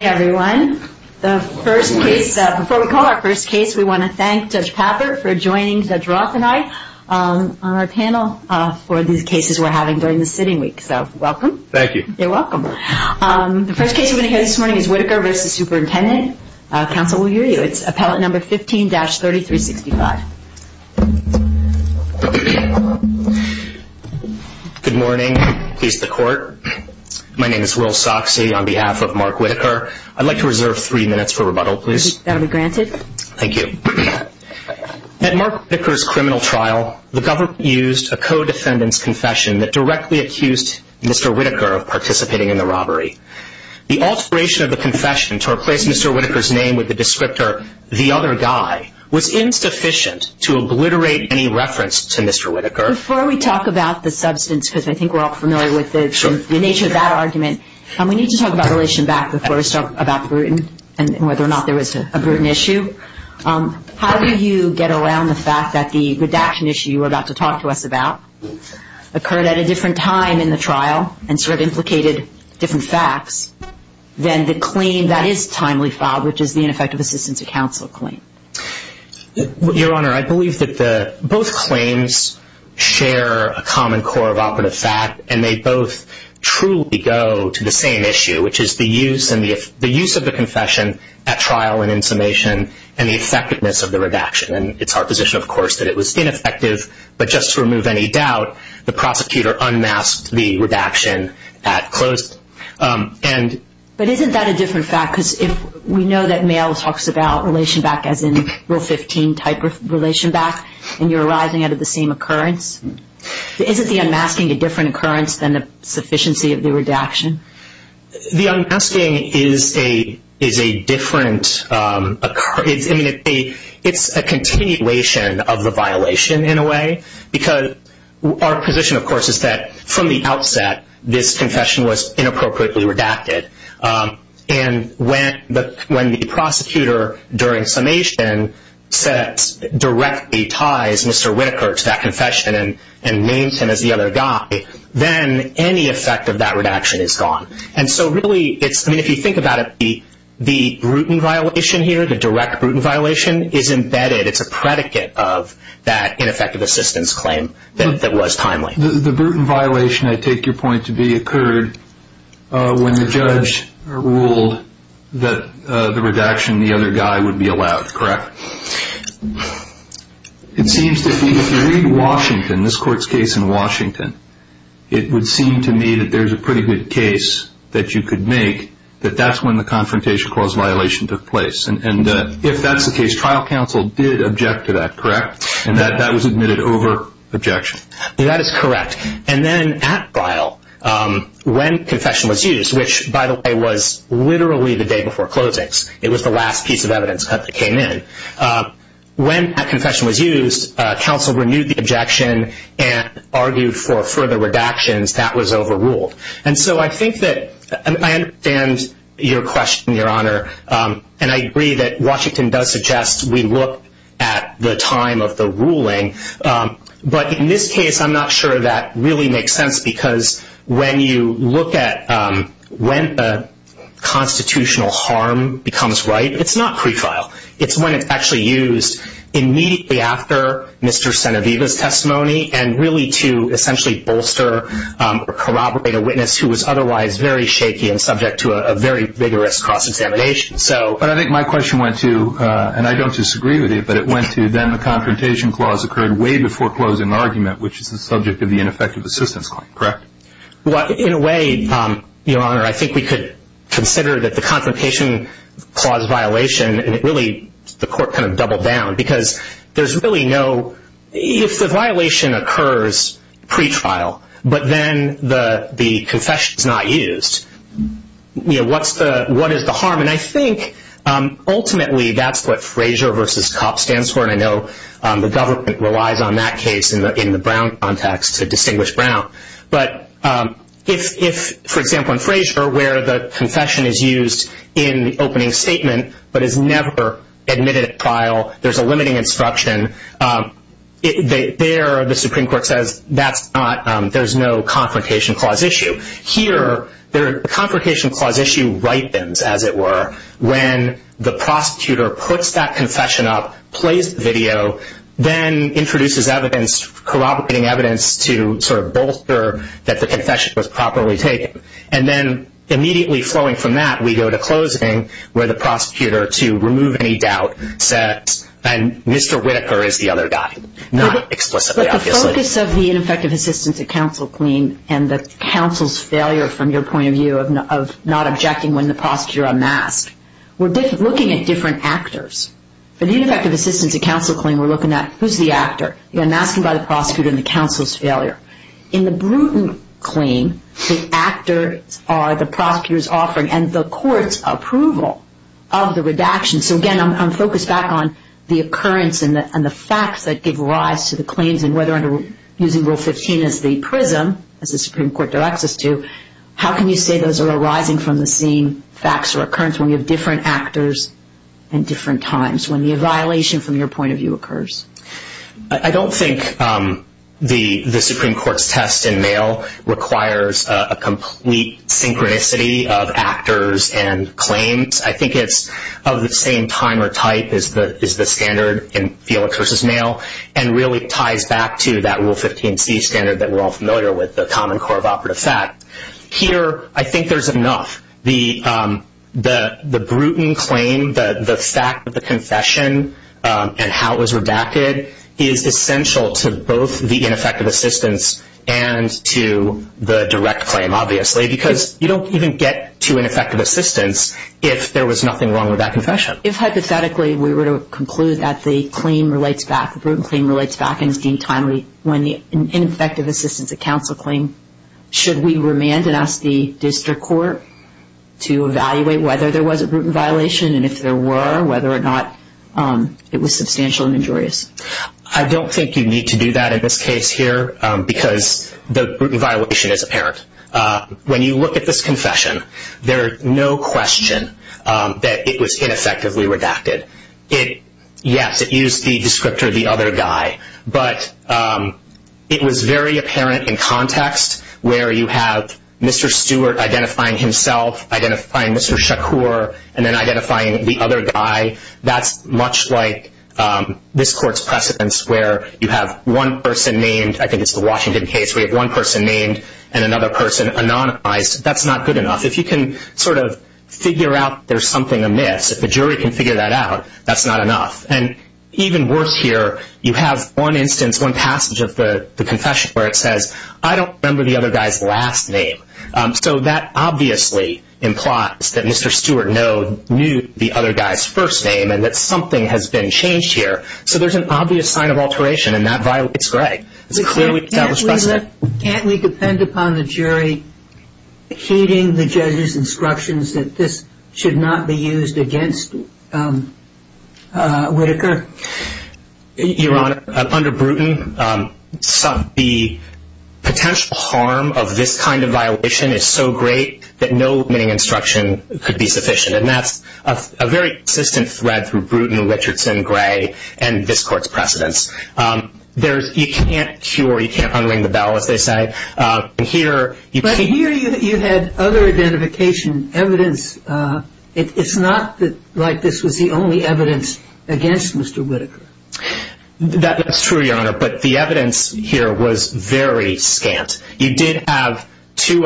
Hi everyone. The first case, before we call our first case, we want to thank Judge Pappert for joining Judge Roth and I on our panel for these cases we're having during the sitting week. So, welcome. Thank you. You're welcome. The first case we're going to hear this morning is Whitaker v. Superintendent. Council will hear you. It's Appellate No. 15-3365. Good morning. Peace to the court. My name is Will Soxsey on behalf of Mark Whitaker. I'd like to reserve three minutes for rebuttal, please. That'll be granted. Thank you. At Mark Whitaker's criminal trial, the government used a co-defendant's confession that directly accused Mr. Whitaker of participating in the robbery. The alteration of the confession to replace Mr. Whitaker's name with the descriptor, the other guy, was insufficient to obliterate any reference to Mr. Whitaker. Before we talk about the substance, because I think we're all familiar with the nature of that argument, we need to talk about relation back before we start about Bruton and whether or not there was a Bruton issue. How do you get around the fact that the redaction issue you were about to talk to us about occurred at a different time in the trial and sort of implicated different facts than the claim that is timely filed, which is the ineffective assistance of counsel claim? Your Honor, I believe that both claims share a common core of operative fact, and they both truly go to the same issue, which is the use of the confession at trial and in summation and the effectiveness of the redaction. And it's our position, of course, that it was ineffective, but just to remove any doubt, the prosecutor unmasked the redaction at close. But isn't that a different fact? Because we know that Mayo talks about relation back as in Rule 15 type of relation back, and you're arising out of the same occurrence. Isn't the unmasking a different occurrence than the sufficiency of the redaction? The unmasking is a continuation of the violation in a way, because our position, of course, is that from the outset, this confession was inappropriately redacted. And when the prosecutor during summation directly ties Mr. Whitaker to that confession and names him as the other guy, then any effect of that redaction is gone. And so really, if you think about it, the Bruton violation here, the direct Bruton violation, is embedded. It's a predicate of that ineffective assistance claim that was timely. The Bruton violation, I take your point to be, occurred when the judge ruled that the redaction, the other guy, would be allowed, correct? It seems to me if you read Washington, this court's case in Washington, it would seem to me that there's a pretty good case that you could make, that that's when the confrontation clause violation took place. And if that's the case, trial counsel did object to that, correct? And that was admitted over objection? That is correct. And then at trial, when confession was used, which, by the way, was literally the day before closings. It was the last piece of evidence that came in. When that confession was used, counsel renewed the objection and argued for further redactions. That was overruled. And so I think that I understand your question, Your Honor. And I agree that Washington does suggest we look at the time of the ruling. But in this case, I'm not sure that really makes sense because when you look at when the constitutional harm becomes right, it's not pre-file. It's when it's actually used immediately after Mr. Senevita's testimony and really to essentially bolster or corroborate a witness who was otherwise very shaky and subject to a very vigorous cross-examination. But I think my question went to, and I don't disagree with it, but it went to then the confrontation clause occurred way before closing the argument, which is the subject of the ineffective assistance claim, correct? Well, in a way, Your Honor, I think we could consider that the confrontation clause violation, and really the court kind of doubled down because there's really no – if the violation occurs pre-trial, but then the confession is not used, what is the harm? And I think ultimately that's what FRAZIER v. COPP stands for, and I know the government relies on that case in the Brown context to distinguish Brown. But if, for example, in FRAZIER where the confession is used in the opening statement but is never admitted at trial, there's a limiting instruction, there the Supreme Court says there's no confrontation clause issue. Here, the confrontation clause issue ripens, as it were, when the prosecutor puts that confession up, plays the video, then introduces evidence, corroborating evidence to sort of bolster that the confession was properly taken. And then immediately flowing from that, we go to closing where the prosecutor, to remove any doubt, says, and Mr. Whitaker is the other guy, not explicitly, obviously. The focus of the ineffective assistance at counsel claim and the counsel's failure, from your point of view, of not objecting when the prosecutor unmasked, we're looking at different actors. For the ineffective assistance at counsel claim, we're looking at who's the actor? The unmasking by the prosecutor and the counsel's failure. In the Bruton claim, the actors are the prosecutor's offering and the court's approval of the redaction. So, again, I'm focused back on the occurrence and the facts that give rise to the claims and whether using Rule 15 as the prism, as the Supreme Court directs us to, how can you say those are arising from the same facts or occurrence when you have different actors and different times, when the violation, from your point of view, occurs? I don't think the Supreme Court's test in mail requires a complete synchronicity of actors and claims. I think it's of the same time or type as the standard in Felix v. Nail and really ties back to that Rule 15c standard that we're all familiar with, the common core of operative fact. Here, I think there's enough. The Bruton claim, the fact that the confession and how it was redacted, is essential to both the ineffective assistance and to the direct claim, obviously, because you don't even get to ineffective assistance if there was nothing wrong with that confession. If, hypothetically, we were to conclude that the claim relates back, the Bruton claim relates back, and is deemed timely when the ineffective assistance of counsel claim, should we remand and ask the district court to evaluate whether there was a Bruton violation and if there were, whether or not it was substantial and injurious? I don't think you need to do that in this case here because the Bruton violation is apparent. When you look at this confession, there's no question that it was ineffectively redacted. Yes, it used the descriptor, the other guy, but it was very apparent in context where you have Mr. Stewart identifying himself, identifying Mr. Shakur, and then identifying the other guy. That's much like this court's precedence where you have one person named, I think it's the Washington case where you have one person named and another person anonymized. That's not good enough. If you can sort of figure out there's something amiss, if the jury can figure that out, that's not enough. Even worse here, you have one instance, one passage of the confession where it says, I don't remember the other guy's last name. So that obviously implies that Mr. Stewart knew the other guy's first name and that something has been changed here. So there's an obvious sign of alteration, and that violates Gray. It's clearly established precedent. Can't we depend upon the jury heeding the judge's instructions that this should not be used against Whitaker? Your Honor, under Bruton, the potential harm of this kind of violation is so great that no admitting instruction could be sufficient, and that's a very consistent thread through Bruton, Richardson, Gray, and this court's precedence. You can't cure, you can't unring the bell, as they say. But here you had other identification evidence. It's not like this was the only evidence against Mr. Whitaker. That's true, Your Honor, but the evidence here was very scant. You did have two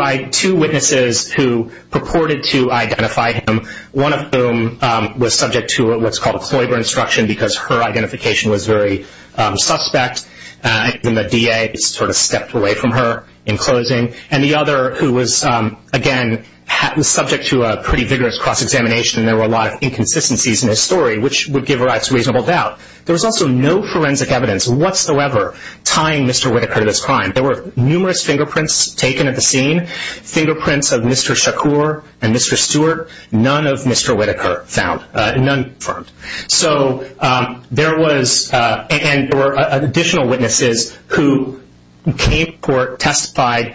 witnesses who purported to identify him, one of whom was subject to what's called Kloiber instruction because her identification was very suspect, and the DA sort of stepped away from her in closing, and the other who was, again, subject to a pretty vigorous cross-examination, and there were a lot of inconsistencies in his story, which would give rise to reasonable doubt. There was also no forensic evidence whatsoever tying Mr. Whitaker to this crime. There were numerous fingerprints taken at the scene, fingerprints of Mr. Shakur and Mr. Stewart. None of Mr. Whitaker found, none confirmed. So there was additional witnesses who came to court, testified,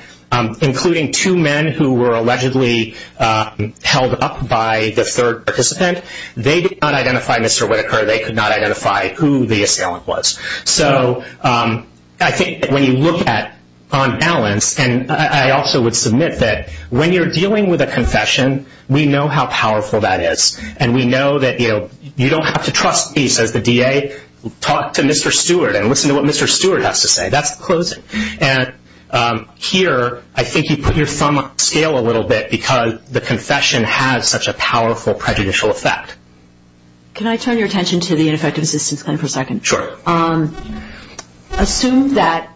including two men who were allegedly held up by the third participant. They did not identify Mr. Whitaker. They could not identify who the assailant was. So I think that when you look at, on balance, and I also would submit that when you're dealing with a confession, we know how powerful that is, and we know that, you know, you don't have to trust me, says the DA. Talk to Mr. Stewart and listen to what Mr. Stewart has to say. That's the closing. And here I think you put your thumb on the scale a little bit because the confession has such a powerful prejudicial effect. Can I turn your attention to the ineffective assistance claim for a second? Sure. Assume that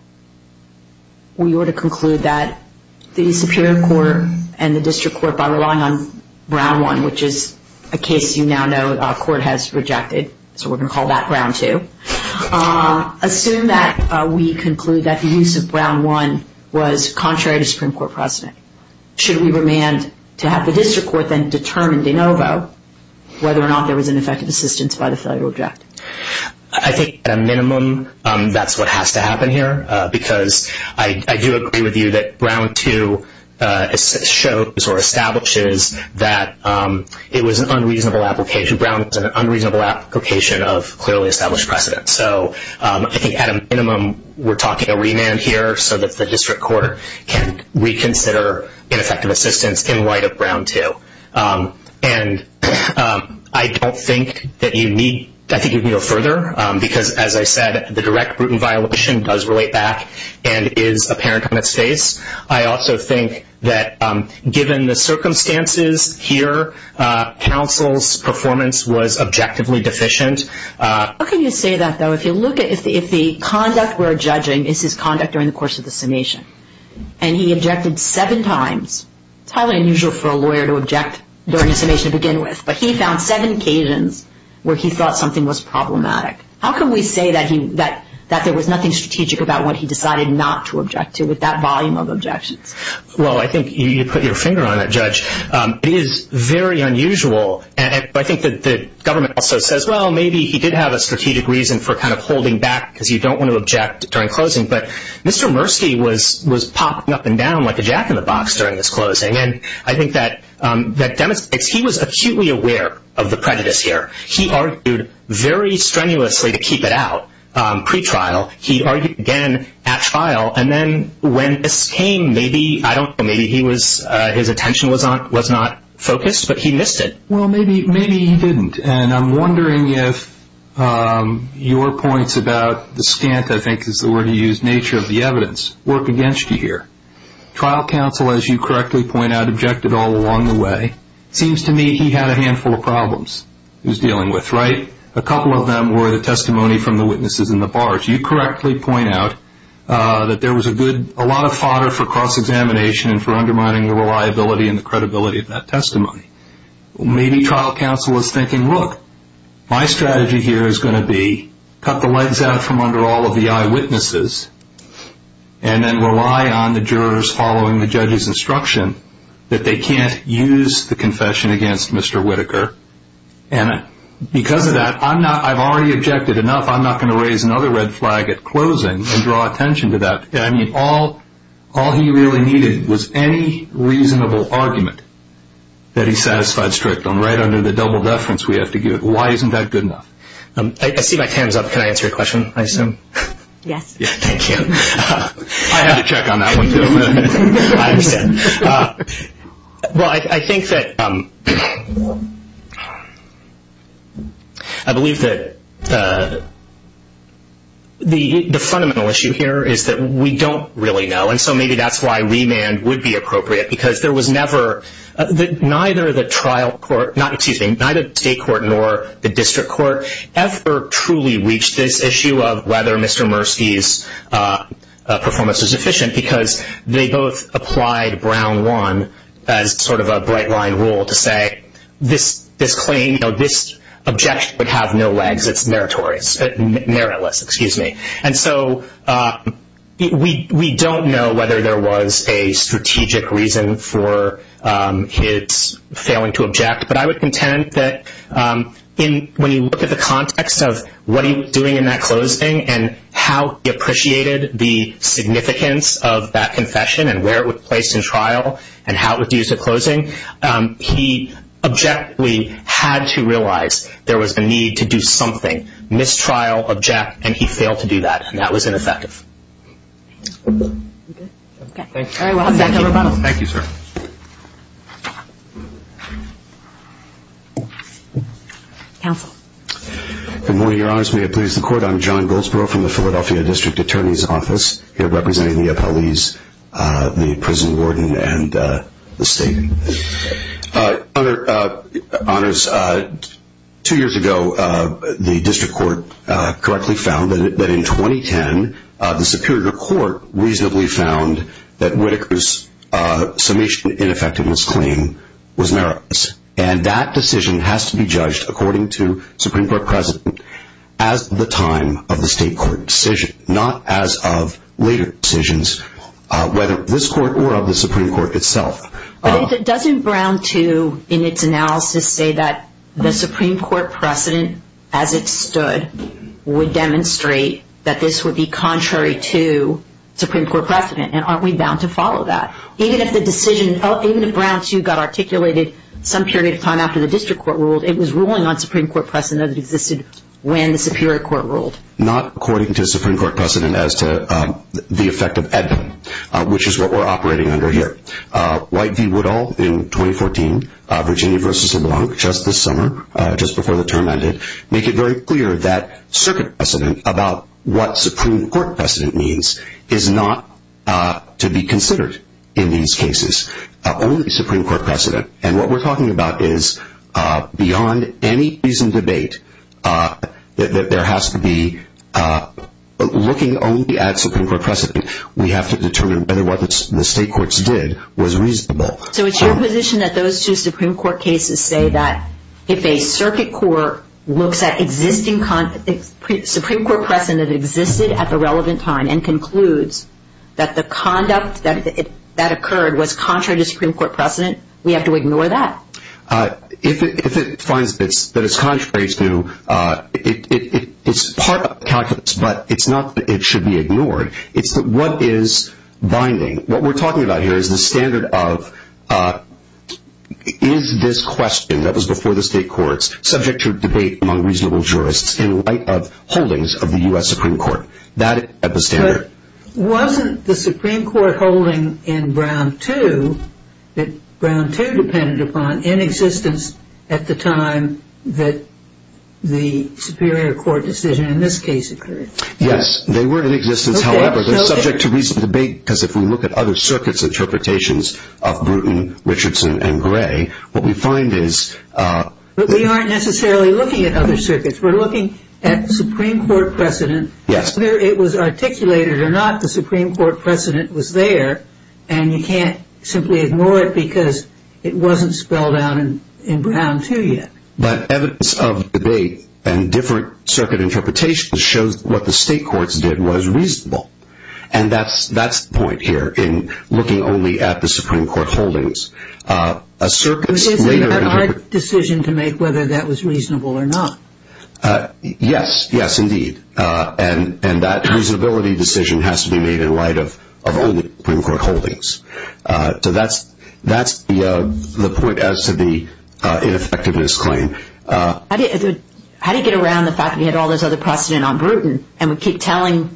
we were to conclude that the Supreme Court and the district court, by relying on Brown 1, which is a case you now know the court has rejected, so we're going to call that Brown 2. Assume that we conclude that the use of Brown 1 was contrary to Supreme Court precedent. Should we remand to have the district court then determine de novo whether or not there was ineffective assistance by the failure to object? I think, at a minimum, that's what has to happen here because I do agree with you that Brown 2 shows or establishes that it was an unreasonable application. Brown was an unreasonable application of clearly established precedent. So I think, at a minimum, we're talking a remand here so that the district court can reconsider ineffective assistance in light of Brown 2. And I think you can go further because, as I said, the direct brutal violation does relate back and is apparent on its face. I also think that, given the circumstances here, counsel's performance was objectively deficient. How can you say that, though? If the conduct we're judging is his conduct during the course of the summation and he objected seven times, it's highly unusual for a lawyer to object during a summation to begin with, but he found seven occasions where he thought something was problematic. How can we say that there was nothing strategic about what he decided not to object to with that volume of objections? Well, I think you put your finger on it, Judge. It is very unusual. I think that the government also says, well, maybe he did have a strategic reason for kind of holding back because you don't want to object during closing. But Mr. Murski was popping up and down like a jack-in-the-box during this closing, and I think that demonstrates he was acutely aware of the prejudice here. He argued very strenuously to keep it out pre-trial. He argued again at trial, and then when this came, maybe, I don't know, maybe his attention was not focused, but he missed it. Well, maybe he didn't, and I'm wondering if your points about the stint, I think is the word you used, nature of the evidence, work against you here. Trial counsel, as you correctly point out, objected all along the way. It seems to me he had a handful of problems he was dealing with, right? A couple of them were the testimony from the witnesses in the bars. You correctly point out that there was a lot of fodder for cross-examination and for undermining the reliability and the credibility of that testimony. Maybe trial counsel was thinking, look, my strategy here is going to be cut the legs out from under all of the eyewitnesses and then rely on the jurors following the judge's instruction that they can't use the confession against Mr. Whitaker, and because of that, I've already objected enough, I'm not going to raise another red flag at closing and draw attention to that. All he really needed was any reasonable argument that he satisfied strict on. Right under the double deference, we have to give it. Why isn't that good enough? I see my time is up. Can I answer your question, I assume? Yes. Thank you. I have to check on that one, too. I understand. Well, I think that, I believe that the fundamental issue here is that we don't really know, and so maybe that's why remand would be appropriate, because there was never, neither the trial court, excuse me, neither the state court nor the district court ever truly reached this issue of whether Mr. Mursky's performance was efficient, because they both applied Brown 1 as sort of a bright line rule to say this claim, this objection would have no legs, it's meritless. And so we don't know whether there was a strategic reason for his failing to object, but I would contend that when you look at the context of what he was doing in that closing and how he appreciated the significance of that confession and where it was placed in trial and how it was used at closing, he objectively had to realize there was a need to do something, mistrial, object, and he failed to do that, and that was ineffective. Okay. Thank you. Thank you, sir. Counsel. Good morning, Your Honors. May it please the Court. I'm John Goldsboro from the Philadelphia District Attorney's Office, here representing the appellees, the prison warden, and the state. Honors, two years ago the district court correctly found that in 2010 the Superior Court reasonably found that Whitaker's summation ineffectiveness claim was meritless, and that decision has to be judged according to Supreme Court precedent as the time of the state court decision, not as of later decisions, whether this court or of the Supreme Court itself. But doesn't Brown II in its analysis say that the Supreme Court precedent as it stood would demonstrate that this would be contrary to Supreme Court precedent, and aren't we bound to follow that? Even if the decision, even if Brown II got articulated some period of time after the district court ruled, it was ruling on Supreme Court precedent that existed when the Superior Court ruled. Not according to Supreme Court precedent as to the effect of Edna, which is what we're operating under here. White v. Woodall in 2014, Virginia v. LeBlanc just this summer, just before the term ended, make it very clear that circuit precedent about what Supreme Court precedent means is not to be considered in these cases. Only Supreme Court precedent. And what we're talking about is beyond any prison debate, there has to be looking only at Supreme Court precedent. We have to determine whether what the state courts did was reasonable. So it's your position that those two Supreme Court cases say that if a circuit court looks at existing Supreme Court precedent that existed at the relevant time and concludes that the conduct that occurred was contrary to Supreme Court precedent, we have to ignore that? If it finds that it's contrary to, it's part of calculus, but it's not that it should be ignored. It's what is binding. What we're talking about here is the standard of is this question that was before the state courts subject to debate among reasonable jurists in light of holdings of the U.S. Supreme Court. That is the standard. But wasn't the Supreme Court holding in Brown II that Brown II depended upon in existence at the time that the Superior Court decision in this case occurred? Yes, they were in existence. However, they're subject to reasonable debate because if we look at other circuits' interpretations of Bruton, Richardson, and Gray, what we find is- But we aren't necessarily looking at other circuits. We're looking at the Supreme Court precedent. Yes. Whether it was articulated or not, the Supreme Court precedent was there, and you can't simply ignore it because it wasn't spelled out in Brown II yet. But evidence of debate and different circuit interpretations shows what the state courts did was reasonable, and that's the point here in looking only at the Supreme Court holdings. A circuit's later- But isn't that our decision to make whether that was reasonable or not? Yes. Yes, indeed. And that reasonability decision has to be made in light of only Supreme Court holdings. So that's the point as to the ineffectiveness claim. How do you get around the fact that we had all this other precedent on Bruton, and we keep telling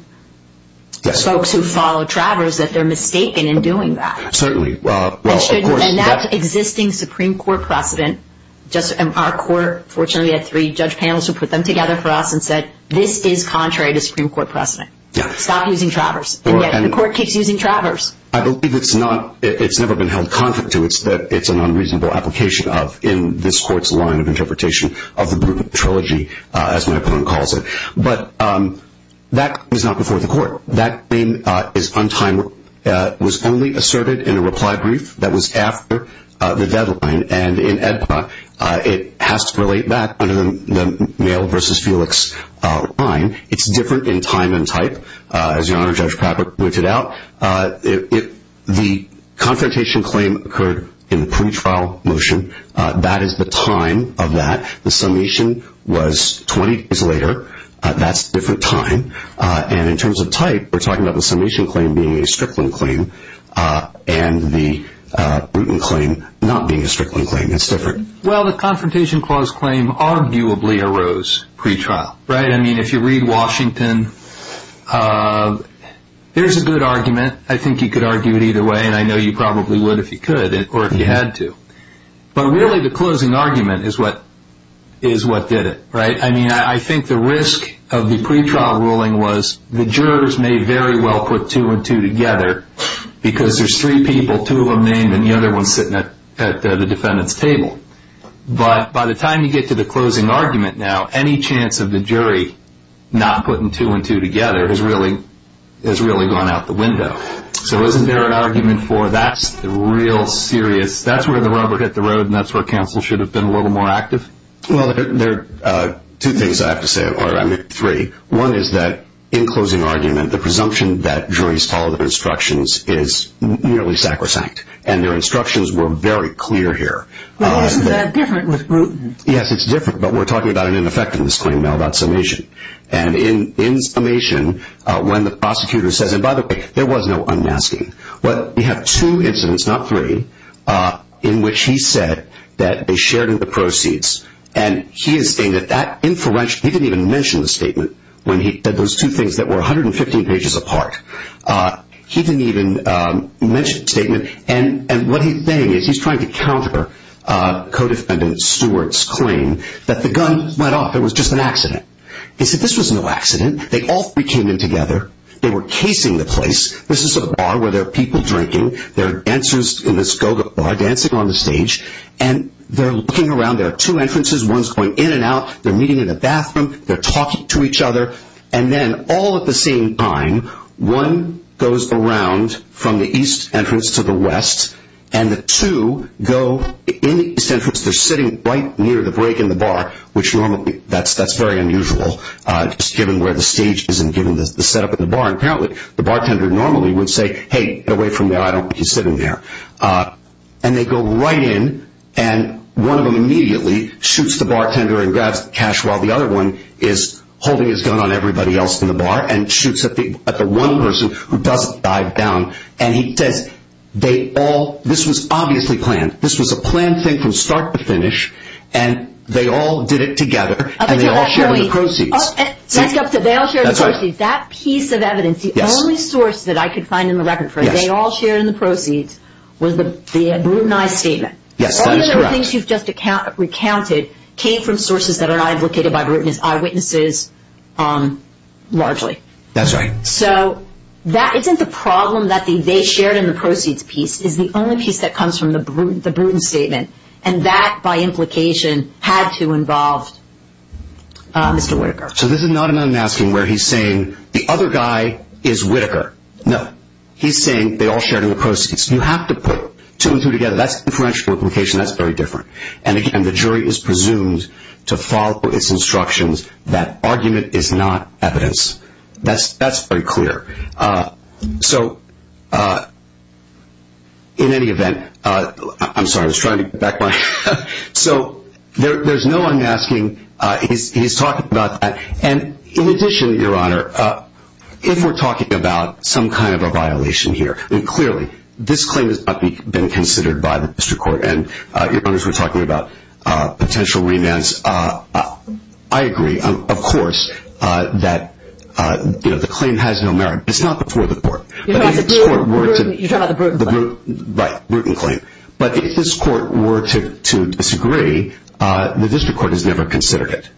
folks who follow Travers that they're mistaken in doing that? Certainly. Well, of course- And that existing Supreme Court precedent- Our court, fortunately, had three judge panels who put them together for us and said, this is contrary to Supreme Court precedent. Yeah. Stop using Travers. And yet the court keeps using Travers. I believe it's not- it's never been held contrary to it. It's an unreasonable application of, in this court's line of interpretation, of the Bruton Trilogy, as my opponent calls it. But that is not before the court. That claim is untimely. It was only asserted in a reply brief that was after the deadline. And in AEDPA, it has to relate back under the male versus Felix line. It's different in time and type, as Your Honor, Judge Kravich pointed out. The confrontation claim occurred in the pretrial motion. That is the time of that. The summation was 20 days later. That's a different time. And in terms of type, we're talking about the summation claim being a stripling claim and the Bruton claim not being a stripling claim. It's different. Well, the confrontation clause claim arguably arose pretrial, right? I mean, if you read Washington, there's a good argument. I think you could argue it either way, and I know you probably would if you could or if you had to. But really, the closing argument is what did it, right? I mean, I think the risk of the pretrial ruling was the jurors may very well put two and two together because there's three people, two of them named, and the other one's sitting at the defendant's table. But by the time you get to the closing argument now, any chance of the jury not putting two and two together has really gone out the window. So isn't there an argument for that's the real serious, that's where the rubber hit the road and that's where counsel should have been a little more active? Well, there are two things I have to say, or I mean three. One is that in closing argument, the presumption that juries follow their instructions is nearly sacrosanct, and their instructions were very clear here. Well, isn't that different with Bruton? Yes, it's different, but we're talking about an ineffectiveness claim now. That's summation. And in summation, when the prosecutor says, and by the way, there was no unmasking, but we have two incidents, not three, in which he said that they shared in the proceeds. And he is saying that that inferential, he didn't even mention the statement when he said those two things that were 115 pages apart. He didn't even mention the statement. And what he's saying is he's trying to counter co-defendant Stewart's claim that the gun went off. It was just an accident. He said this was no accident. They all three came in together. They were casing the place. This is a bar where there are people drinking. There are dancers in this go-go bar dancing on the stage. And they're looking around. There are two entrances. One's going in and out. They're meeting in a bathroom. They're talking to each other. And then all at the same time, one goes around from the east entrance to the west, and the two go in the east entrance. They're sitting right near the break in the bar, which normally, that's very unusual, just given where the stage is and given the setup of the bar. Apparently, the bartender normally would say, hey, get away from there. I don't want you sitting there. And they go right in, and one of them immediately shoots the bartender and grabs the cash while the other one is holding his gun on everybody else in the bar and shoots at the one person who doesn't dive down. And he says they all – this was obviously planned. This was a planned thing from start to finish, and they all did it together, and they all shared the proceeds. They all shared the proceeds. That piece of evidence, the only source that I could find in the record for it, they all shared in the proceeds, was the brutalized statement. Yes, that is correct. The things you've just recounted came from sources that are not implicated by bruteness, eyewitnesses largely. That's right. So that isn't the problem that they shared in the proceeds piece. It's the only piece that comes from the brutal statement, and that, by implication, had to involve Mr. Whitaker. So this is not an unmasking where he's saying the other guy is Whitaker. No. He's saying they all shared in the proceeds. You have to put two and two together. That's differential implication. That's very different. And, again, the jury is presumed to follow its instructions that argument is not evidence. That's very clear. So in any event, I'm sorry, I was trying to get back my – so there's no unmasking. He's talking about that. And, in addition, Your Honor, if we're talking about some kind of a violation here, then clearly this claim has not been considered by the district court. And Your Honors were talking about potential remands. I agree, of course, that the claim has no merit. It's not before the court. You're talking about the bruten claim. Right, bruten claim. But if this court were to disagree, the district court has never considered it.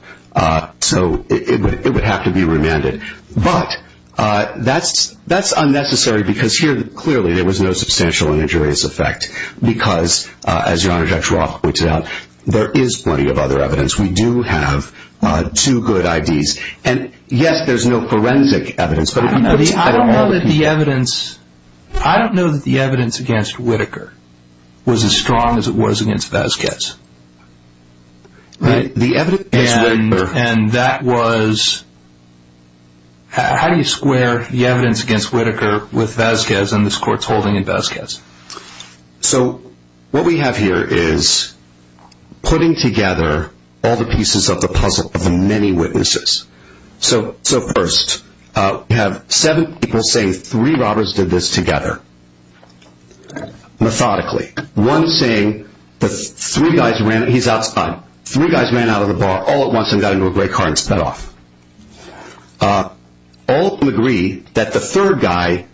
So it would have to be remanded. But that's unnecessary because here, clearly, there was no substantial injurious effect because, as Your Honor, Judge Roth pointed out, there is plenty of other evidence. We do have two good IDs. And, yes, there's no forensic evidence. I don't know that the evidence against Whitaker was as strong as it was against Vasquez. How do you square the evidence against Whitaker with Vasquez and this court's holding in Vasquez? So what we have here is putting together all the pieces of the puzzle of the many witnesses. So, first, we have seven people saying three robbers did this together, methodically. One saying the three guys ran. He's outside. Three guys ran out of the bar all at once and got into a gray car and sped off. All who agree that the third guy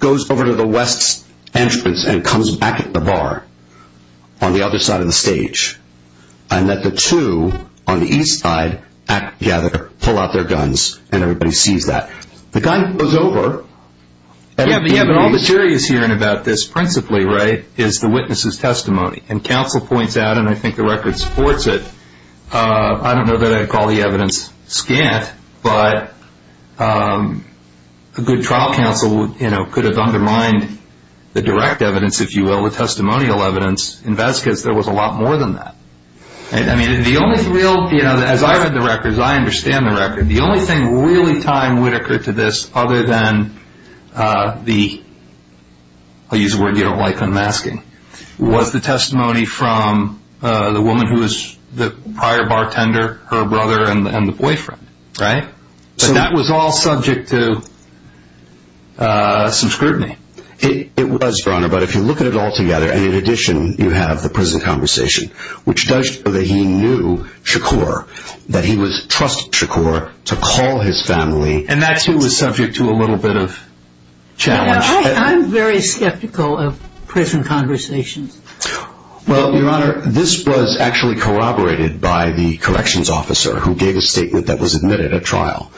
goes over to the west entrance and comes back at the bar on the other side of the stage and that the two on the east side act together, pull out their guns, and everybody sees that. The guy goes over. Yeah, but all the jury is hearing about this principally is the witness's testimony. And counsel points out, and I think the record supports it, I don't know that I'd call the evidence scant, but a good trial counsel could have undermined the direct evidence, if you will, the testimonial evidence in Vasquez. There was a lot more than that. I mean, the only real, as I read the records, I understand the record, the only thing really tied Whitaker to this other than the, I'll use a word you don't like on masking, was the testimony from the woman who was the prior bartender, her brother, and the boyfriend. Right? But that was all subject to some scrutiny. It was, Your Honor, but if you look at it all together, and in addition you have the prison conversation, which does show that he knew Shakur, that he trusted Shakur to call his family. And that, too, was subject to a little bit of challenge. I'm very skeptical of prison conversations. Well, Your Honor, this was actually corroborated by the corrections officer who gave a statement that was admitted at trial,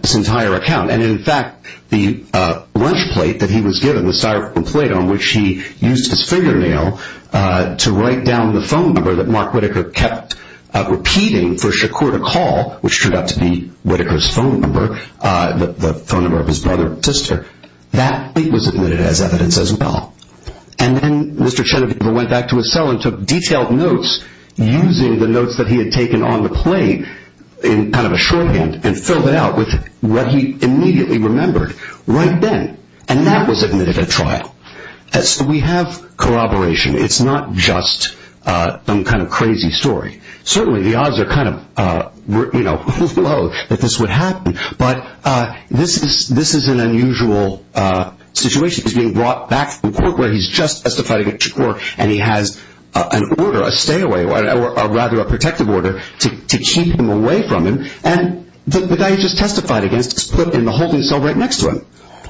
this entire account. And, in fact, the lunch plate that he was given, the styrofoam plate on which he used his fingernail to write down the phone number that Mark Whitaker kept repeating for Shakur to call, which turned out to be Whitaker's phone number, the phone number of his brother and sister, that plate was admitted as evidence as well. And then Mr. Chenegover went back to his cell and took detailed notes using the notes that he had taken on the plate in kind of a shorthand and filled it out with what he immediately remembered right then. And that was admitted at trial. So we have corroboration. It's not just some kind of crazy story. Certainly the odds are kind of low that this would happen, but this is an unusual situation. He's being brought back from court where he's just testified against Shakur and he has an order, a stay-away, or rather a protective order to keep him away from him. And the guy he just testified against is put in the holding cell right next to him.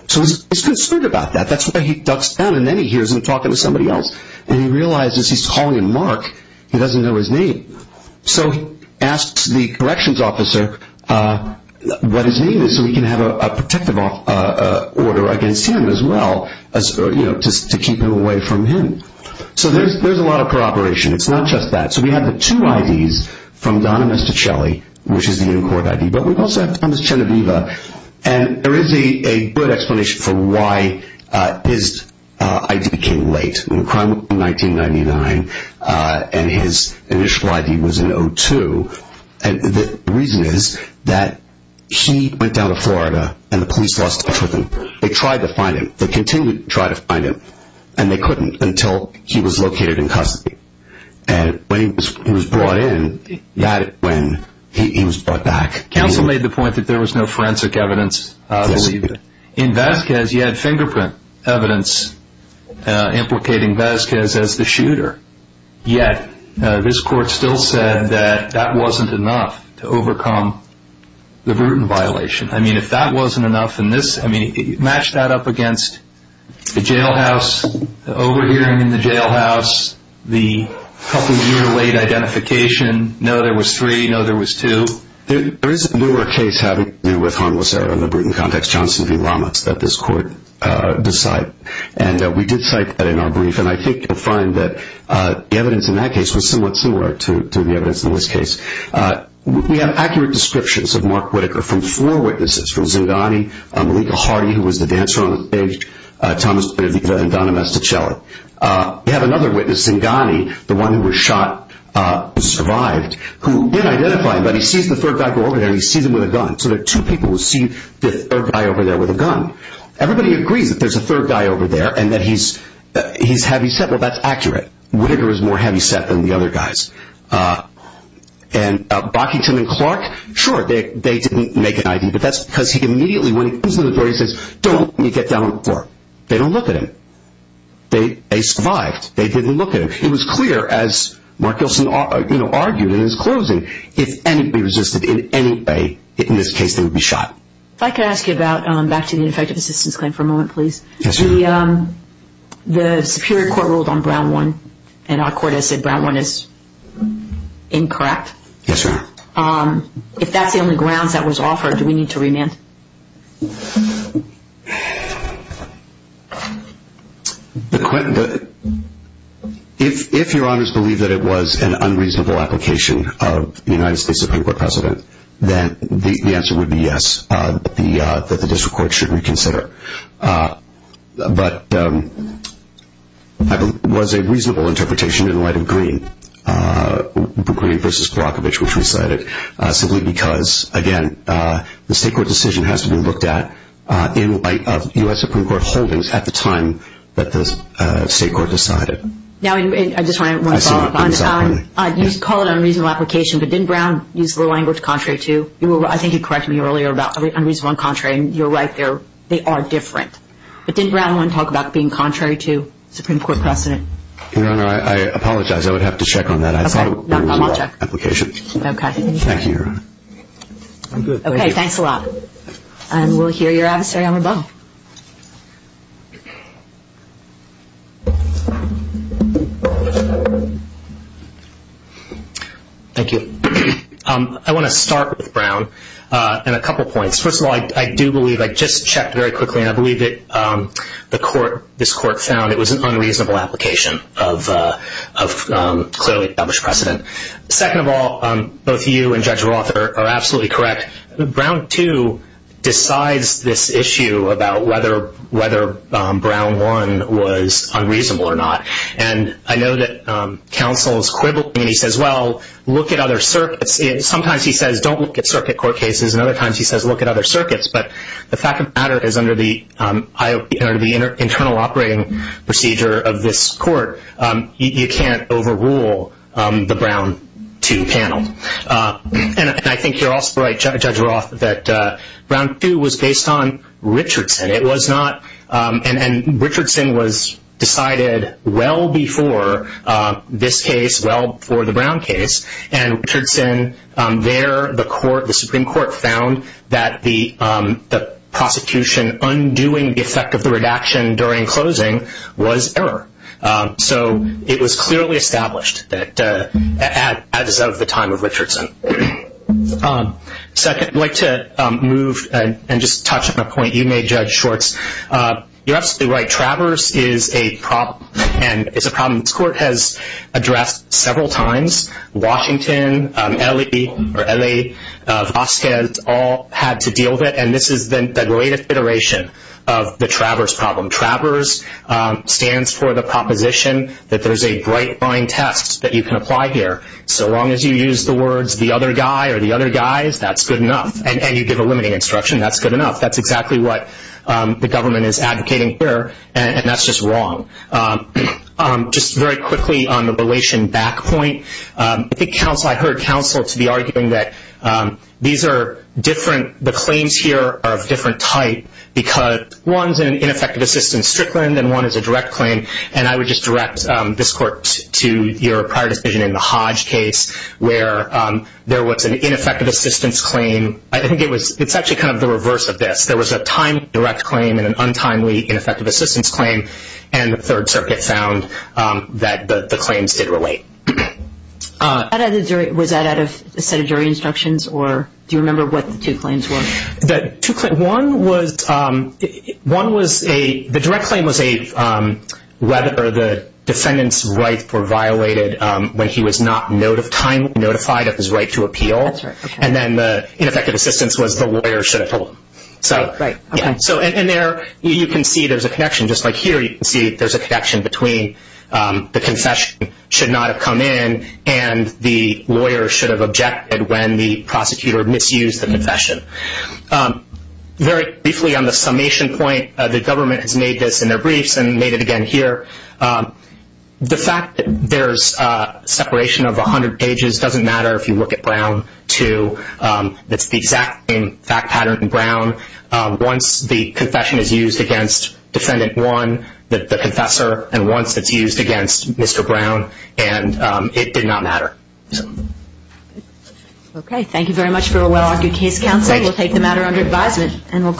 So he's concerned about that. That's why he ducks down and then he hears him talking to somebody else. And he realizes he's calling Mark. He doesn't know his name. So he asks the corrections officer what his name is so he can have a protective order against him as well to keep him away from him. So there's a lot of corroboration. It's not just that. So we have the two IDs from Don and Mr. Shelley, which is the in-court ID, but we also have Thomas Cheneviva. And there is a good explanation for why his ID came late. The crime occurred in 1999, and his initial ID was in 2002. And the reason is that he went down to Florida and the police lost touch with him. They tried to find him. They continued to try to find him, and they couldn't until he was located in custody. And when he was brought in, that's when he was brought back. Counsel made the point that there was no forensic evidence. In Vasquez, you had fingerprint evidence implicating Vasquez as the shooter. Yet this court still said that that wasn't enough to overcome the Bruton violation. I mean, if that wasn't enough, and this, I mean, match that up against the jailhouse, the overhearing in the jailhouse, the couple-year-late identification, no, there was three, no, there was two. There is a newer case having to do with harmless error in the Bruton context, Johnson v. Ramos, that this court decided. And we did cite that in our brief, and I think you'll find that the evidence in that case was somewhat similar to the evidence in this case. We have accurate descriptions of Mark Whitaker from four witnesses, from Zingani, Malika Hardy, who was the dancer on the stage, Thomas Cheneviva, and Donna Mastichelli. We have another witness, Zingani, the one who was shot and survived, who didn't identify him, but he sees the third guy go over there and he sees him with a gun. So there are two people who see the third guy over there with a gun. Everybody agrees that there's a third guy over there and that he's heavyset. Well, that's accurate. Whitaker is more heavyset than the other guys. And Bockington and Clark, sure, they didn't make an ID, but that's because he immediately, when he comes to the door, he says, don't let me get down on the floor. They don't look at him. They survived. They didn't look at him. It was clear, as Mark Gilson argued in his closing, if anybody resisted in any way in this case, they would be shot. If I could ask you about, back to the ineffective assistance claim for a moment, please. Yes, ma'am. The superior court ruled on Brown 1, and our court has said Brown 1 is incorrect. Yes, ma'am. If that's the only grounds that was offered, do we need to remand? If your honors believe that it was an unreasonable application of the United States Supreme Court precedent, then the answer would be yes, that the district court should reconsider. But it was a reasonable interpretation in light of Greene, Greene v. Milakovic, which we cited, simply because, again, the state court decision has to be looked at in light of U.S. Supreme Court holdings at the time that the state court decided. Now, I just want to follow up on that. You call it an unreasonable application, but didn't Brown use the language contrary to? I think you corrected me earlier about unreasonable and contrary, and you're right. They are different. But didn't Brown 1 talk about being contrary to Supreme Court precedent? Your honor, I apologize. I would have to check on that. I thought it was a reasonable application. You should. Okay. Thank you, your honor. Okay, thanks a lot. And we'll hear your adversary on the phone. Thank you. I want to start with Brown and a couple points. First of all, I do believe, I just checked very quickly, and I believe that the court, this court, found it was an unreasonable application of clearly established precedent. Second of all, both you and Judge Roth are absolutely correct. Brown 2 decides this issue about whether Brown 1 was unreasonable or not. And I know that counsel is quibbling, and he says, well, look at other circuits. Sometimes he says don't look at circuit court cases, and other times he says look at other circuits. But the fact of the matter is under the internal operating procedure of this court, you can't overrule the Brown 2 panel. And I think you're also right, Judge Roth, that Brown 2 was based on Richardson. It was not, and Richardson was decided well before this case, well before the Brown case, and Richardson there, the Supreme Court found that the prosecution undoing the effect of the redaction during closing was error. So it was clearly established that as of the time of Richardson. Second, I'd like to move and just touch on a point you made, Judge Schwartz. You're absolutely right. Traverse is a problem, and it's a problem this court has addressed several times. Washington, Ellie, or Ellie Vasquez all had to deal with it, and this is the greatest iteration of the Traverse problem. Traverse stands for the proposition that there's a bright line test that you can apply here. So long as you use the words the other guy or the other guys, that's good enough, and you give a limiting instruction, that's good enough. That's exactly what the government is advocating here, and that's just wrong. Just very quickly on the relation back point, I think counsel, I heard counsel to be arguing that these are different. The claims here are of different type because one's an ineffective assistance strickland and one is a direct claim, and I would just direct this court to your prior decision in the Hodge case where there was an ineffective assistance claim. I think it's actually kind of the reverse of this. There was a timed direct claim and an untimely ineffective assistance claim, and the Third Circuit found that the claims did relate. Was that out of a set of jury instructions, or do you remember what the two claims were? The direct claim was whether the defendant's rights were violated when he was not timely notified of his right to appeal, and then the ineffective assistance was the lawyer should have told him. Right, okay. And there you can see there's a connection. Just like here you can see there's a connection between the confession should not have come in and the lawyer should have objected when the prosecutor misused the confession. Very briefly on the summation point, the government has made this in their briefs and made it again here. The fact that there's a separation of 100 pages doesn't matter if you look at Brown II. Once the confession is used against Defendant 1, the confessor, and once it's used against Mr. Brown, and it did not matter. Okay, thank you very much for a well-argued case, Counsel. We'll take the matter under advisement.